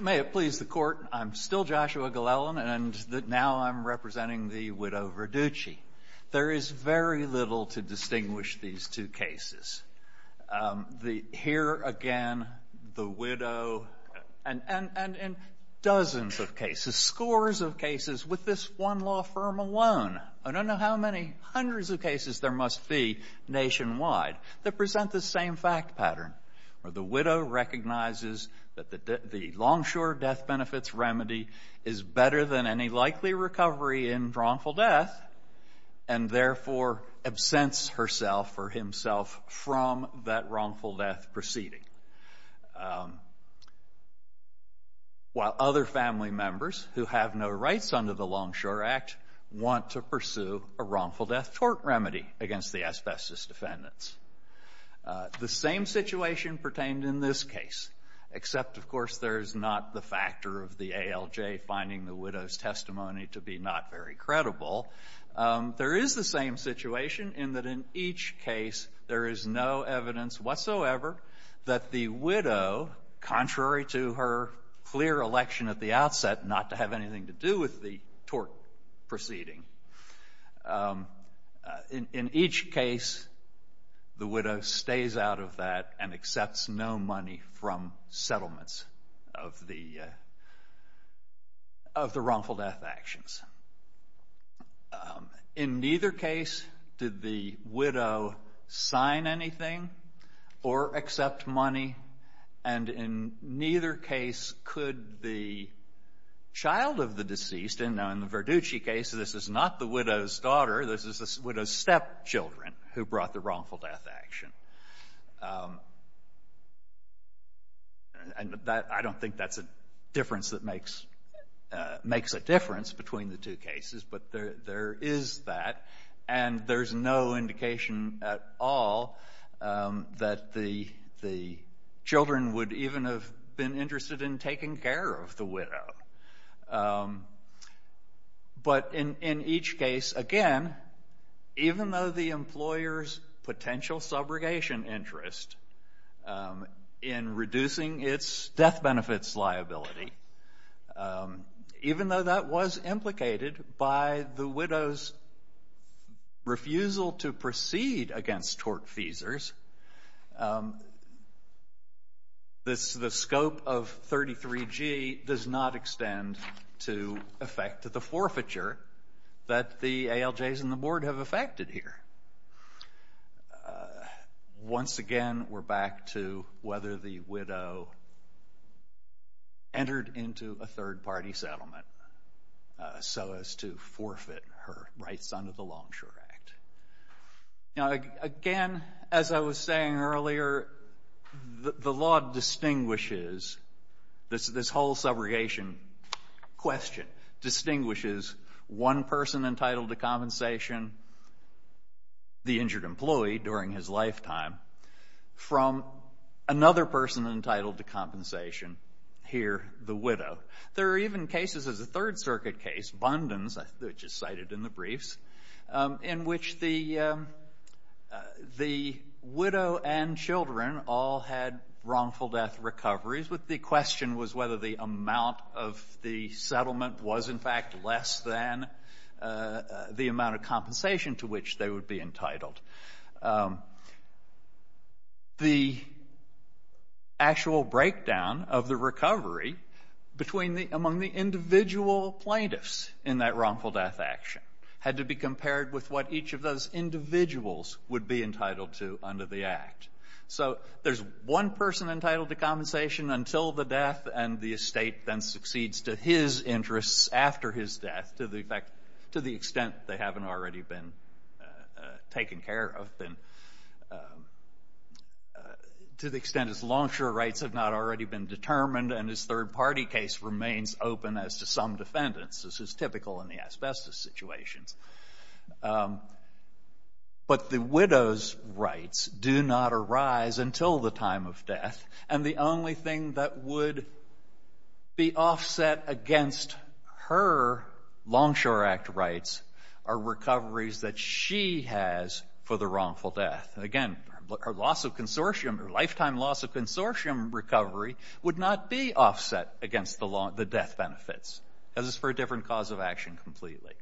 May it please the Court, I'm still Joshua Glellen, and now I'm representing the widow Verducci. There is very little to distinguish these two cases. Here again, the widow, and dozens of cases, scores of cases with this one law firm alone. I don't know how many hundreds of cases there must be nationwide that present the same fact pattern, where the widow recognizes that the longshore death benefits remedy is better than any likely recovery in wrongful death, and therefore absents herself or himself from that wrongful death proceeding, while other family members who have no rights under the Longshore Act want to pursue a wrongful death tort remedy against the asbestos defendants. The same situation pertained in this case, except, of course, there is not the factor of the ALJ finding the widow's testimony to be not very credible. There is the same situation in that in each case there is no evidence whatsoever that the widow, contrary to her clear election at the outset not to have anything to do with the tort proceeding, in each case the widow stays out of that and accepts no money from settlements of the wrongful death actions. In neither case did the widow sign anything or accept money, and in neither case could the child of the deceased, now in the Verducci case this is not the widow's daughter, this is the widow's stepchildren who brought the wrongful death action. I don't think that's a difference that makes a difference between the two cases, but there is that, and there's no indication at all that the children would even have been interested in taking care of the widow. But in each case, again, even though the employer's potential subrogation interest in reducing its death benefits liability, even though that was implicated by the widow's refusal to proceed against tortfeasors, the scope of 33G does not extend to effect the forfeiture that the ALJs and the board have effected here. Once again, we're back to whether the widow entered into a third-party settlement so as to forfeit her rights under the Longshore Act. Now, again, as I was saying earlier, the law distinguishes this whole subrogation question, distinguishes one person entitled to compensation, the injured employee during his lifetime, from another person entitled to compensation, here the widow. There are even cases as a Third Circuit case, Bundins, which is cited in the briefs, in which the widow and children all had wrongful death recoveries, and the difference with the question was whether the amount of the settlement was in fact less than the amount of compensation to which they would be entitled. The actual breakdown of the recovery among the individual plaintiffs in that wrongful death action had to be compared with what each of those individuals would be entitled to under the Act. So there's one person entitled to compensation until the death, and the estate then succeeds to his interests after his death, to the extent they haven't already been taken care of, to the extent his longshore rights have not already been determined, and his third-party case remains open as to some defendants. This is typical in the asbestos situations. But the widow's rights do not arise until the time of death, and the only thing that would be offset against her longshore Act rights are recoveries that she has for the wrongful death. Again, her lifetime loss of consortium recovery would not be offset against the death benefits, as it's for a different cause of action completely.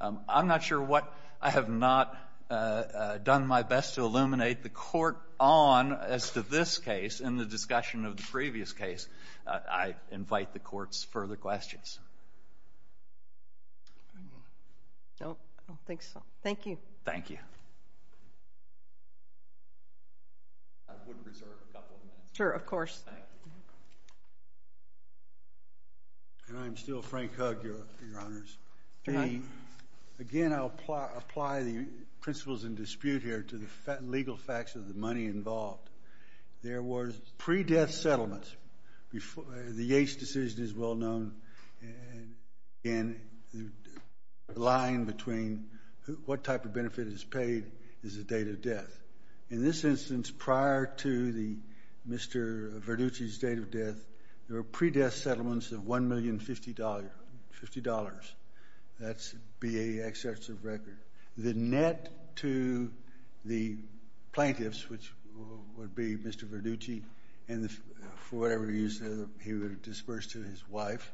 I'm not sure what. I have not done my best to illuminate the Court on as to this case in the discussion of the previous case. I invite the Court's further questions. I don't think so. Thank you. Thank you. I would reserve a couple of minutes. Sure, of course. Thank you. I'm still Frank Hugg, Your Honors. Again, I'll apply the principles in dispute here to the legal facts of the money involved. There were pre-death settlements. The Yates decision is well known, and the line between what type of benefit is paid is the date of death. In this instance, prior to Mr. Verducci's date of death, there were pre-death settlements of $1,050,000. That's BAE excerpts of record. The net to the plaintiffs, which would be Mr. Verducci and for whatever reason he would disperse to his wife,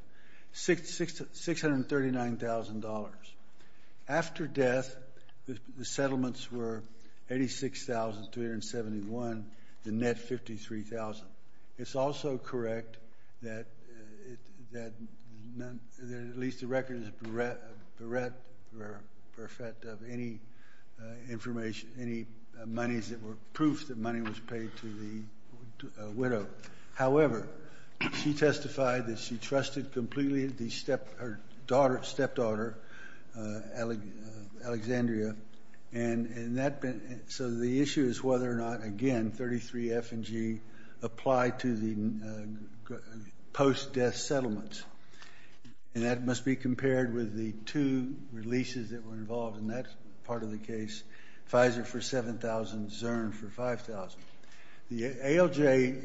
$639,000. After death, the settlements were $86,271, the net $53,000. It's also correct that at least the record is bereft of any information, any proof that money was paid to the widow. However, she testified that she trusted completely the stepdaughter, Alexandria, and so the issue is whether or not, again, 33F and G apply to the post-death settlements. And that must be compared with the two releases that were involved in that part of the case, Pfizer for $7,000, Zurn for $5,000. The ALJ,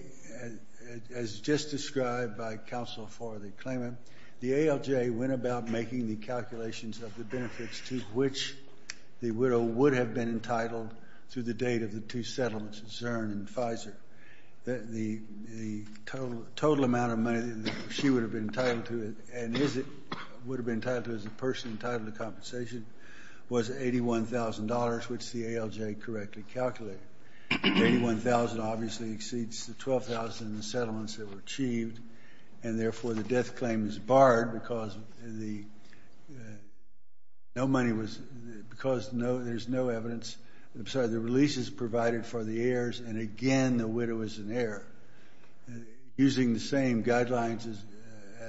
as just described by counsel for the claimant, the ALJ went about making the calculations of the benefits to which the widow would have been entitled through the date of the two settlements, Zurn and Pfizer. The total amount of money that she would have been entitled to and would have been entitled to as a person entitled to compensation was $81,000, which the ALJ correctly calculated. $81,000 obviously exceeds the $12,000 in the settlements that were achieved, and therefore the death claim is barred because there's no evidence. I'm sorry, the release is provided for the heirs, and again, the widow is an heir. Using the same guidelines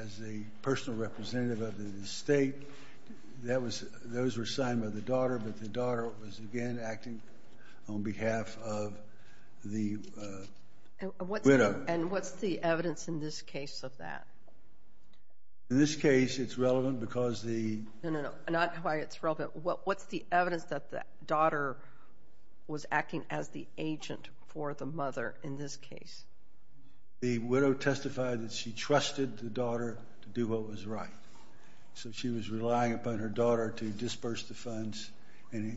as the personal representative of the estate, those were signed by the daughter, but the daughter was again acting on behalf of the widow. And what's the evidence in this case of that? In this case, it's relevant because the— No, no, no, not why it's relevant. What's the evidence that the daughter was acting as the agent for the mother in this case? The widow testified that she trusted the daughter to do what was right, and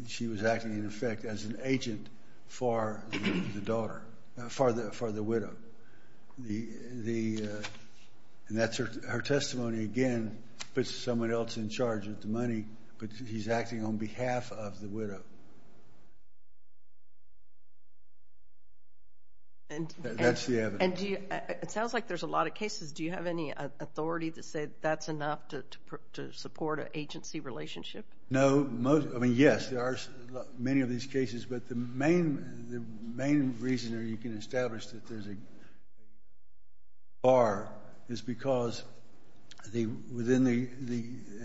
she was acting, in effect, as an agent for the daughter, for the widow. And that's her testimony, again, puts someone else in charge of the money, but he's acting on behalf of the widow. That's the evidence. It sounds like there's a lot of cases. Do you have any authority to say that's enough to support an agency relationship? No, most—I mean, yes, there are many of these cases, but the main reason you can establish that there's a bar is because within the—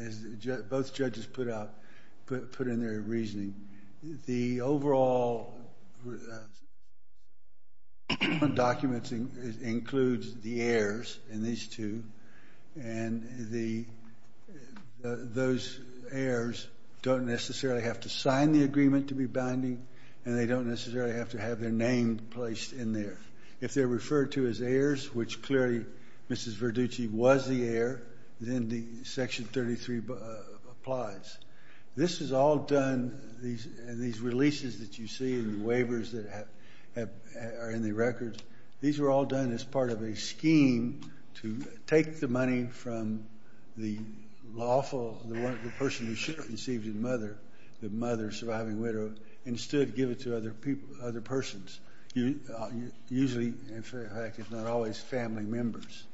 as both judges put out, put in their reasoning, the overall document includes the heirs in these two, and those heirs don't necessarily have to sign the agreement to be binding, and they don't necessarily have to have their name placed in there. If they're referred to as heirs, which clearly Mrs. Verducci was the heir, then Section 33 applies. This is all done, and these releases that you see and the waivers that are in the records, these were all done as part of a scheme to take the money from the lawful, the person who should have received it, the mother, the surviving widow, and instead give it to other persons, usually, in fact, if not always, family members.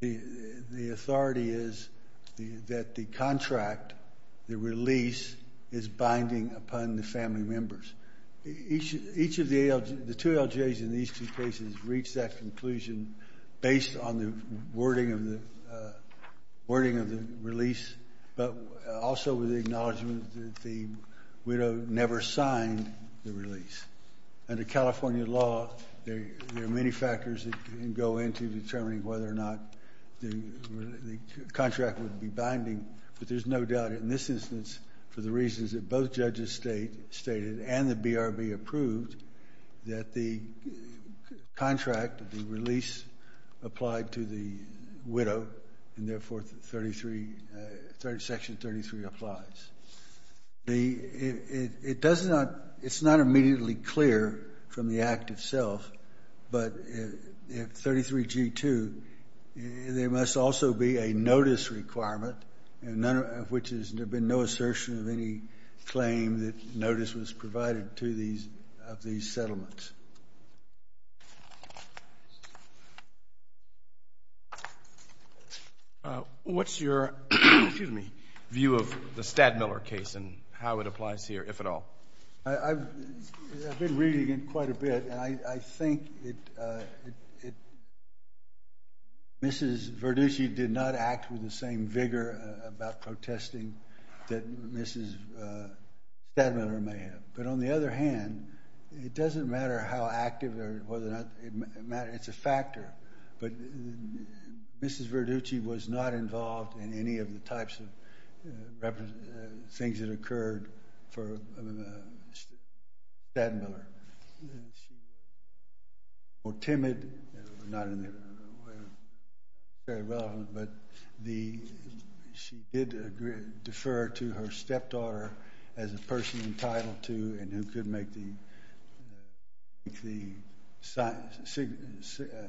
The authority is that the contract, the release, is binding upon the family members. Each of the two LJs in these two cases reached that conclusion based on the wording of the release, but also with the acknowledgment that the widow never signed the release. Under California law, there are many factors that can go into determining whether or not the contract would be binding, but there's no doubt in this instance for the reasons that both judges stated and the BRB approved, that the contract, the release, applied to the widow, and therefore Section 33 applies. It's not immediately clear from the act itself, but if 33G2, there must also be a notice requirement, of which there's been no assertion of any claim that notice was provided to these settlements. What's your view of the Stadmiller case and how it applies here, if at all? I've been reading it quite a bit, and I think Mrs. Verducci did not act with the same vigor about protesting that Mrs. Stadmiller may have. But on the other hand, it doesn't matter how active or whether or not it matters. It's a factor, but Mrs. Verducci was not involved in any of the types of things that occurred for Mrs. Stadmiller. She was more timid, not in a way that's very relevant, but she did defer to her stepdaughter as a person entitled to and who could make the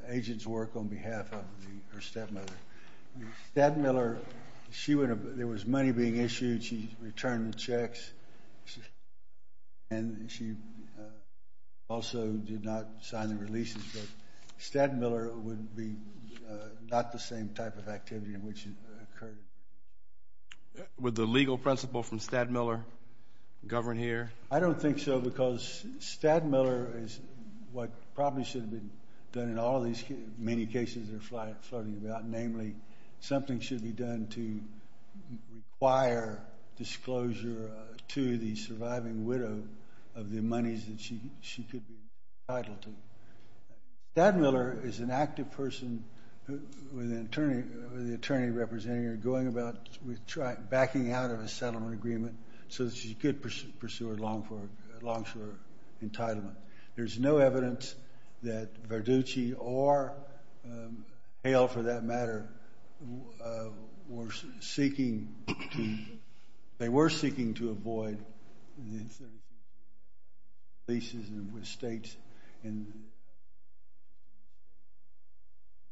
agent's work on behalf of her stepmother. Stadmiller, there was money being issued. She returned the checks, and she also did not sign the releases, but Stadmiller would be not the same type of activity in which it occurred. Would the legal principle from Stadmiller govern here? I don't think so because Stadmiller is what probably should have been done in all of these many cases that are floating about, namely, something should be done to require disclosure to the surviving widow of the monies that she could be entitled to. Stadmiller is an active person with the attorney representing her, backing out of a settlement agreement so that she could pursue her long-term entitlement. There's no evidence that Verducci or Hale, for that matter, were seeking to avoid the insertion of these releases with states in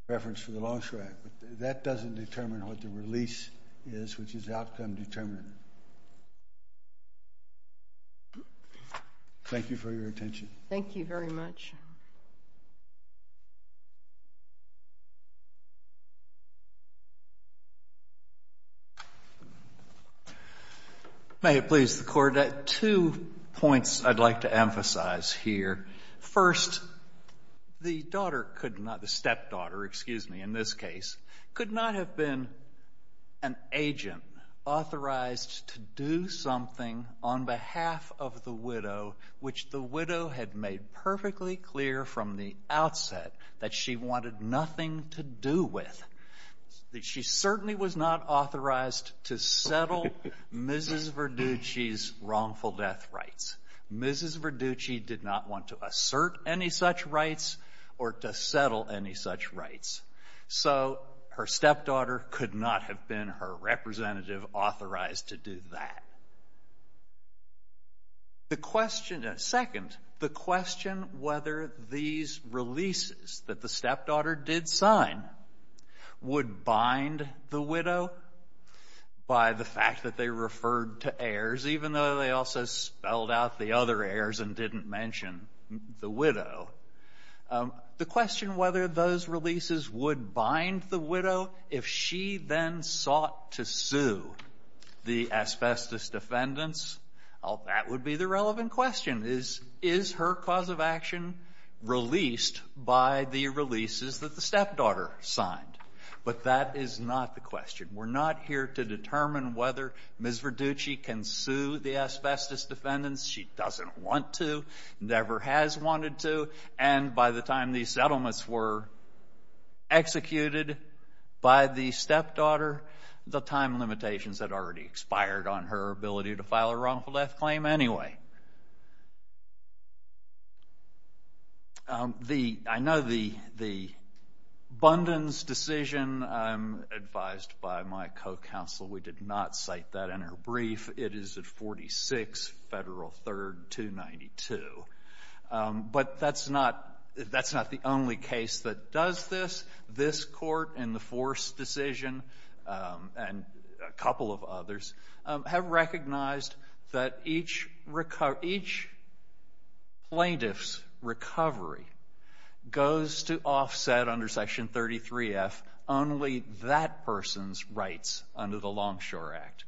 reference to the Longstrike, but that doesn't determine what the release is, which is outcome-determinant. Thank you for your attention. Thank you very much. May it please the Court. Two points I'd like to emphasize here. First, the stepdaughter, excuse me, in this case, could not have been an agent authorized to do something on behalf of the widow which the widow had made perfectly clear from the outset that she wanted nothing to do with. She certainly was not authorized to settle Mrs. Verducci's wrongful death rights. Mrs. Verducci did not want to assert any such rights or to settle any such rights. So her stepdaughter could not have been her representative authorized to do that. The question at second, the question whether these releases that the stepdaughter did sign would bind the widow by the fact that they referred to heirs, even though they also spelled out the other heirs and didn't mention the widow. The question whether those releases would bind the widow if she then sought to sue the asbestos defendants, that would be the relevant question. Is her cause of action released by the releases that the stepdaughter signed? But that is not the question. We're not here to determine whether Mrs. Verducci can sue the asbestos defendants. She doesn't want to, never has wanted to, and by the time these settlements were executed by the stepdaughter, the time limitations had already expired on her ability to file a wrongful death claim anyway. I know the Bunden's decision, advised by my co-counsel, we did not cite that in her brief. It is at 46 Federal 3rd 292. But that's not the only case that does this. This Court in the Force decision and a couple of others have recognized that each plaintiff's recovery goes to offset under Section 33F only that person's rights under the Longshore Act.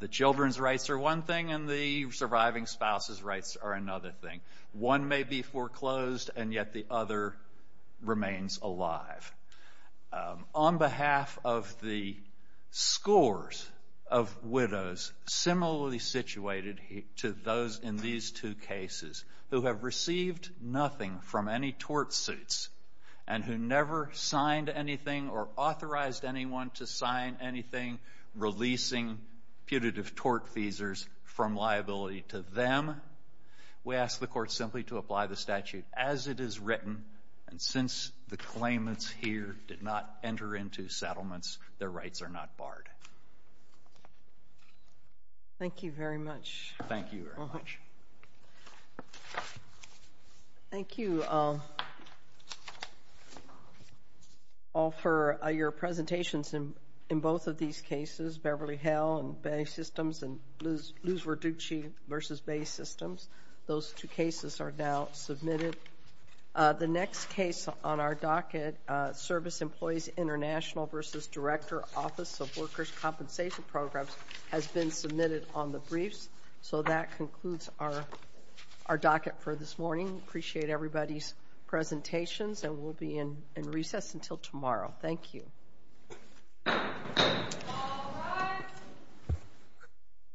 The children's rights are one thing and the surviving spouse's rights are another thing. One may be foreclosed and yet the other remains alive. On behalf of the scores of widows similarly situated to those in these two cases who have received nothing from any tort suits and who never signed anything or authorized anyone to sign anything releasing putative tort feasers from liability to them, we ask the Court simply to apply the statute as it is written. And since the claimants here did not enter into settlements, their rights are not barred. Thank you very much. Thank you very much. Thank you all for your presentations in both of these cases, Beverly Hill and Bay Systems and Luz Verducci v. Bay Systems. Those two cases are now submitted. The next case on our docket, Service Employees International v. Director, Office of Workers' Compensation Programs, has been submitted on the briefs. So that concludes our docket for this morning. Appreciate everybody's presentations, and we'll be in recess until tomorrow. Thank you.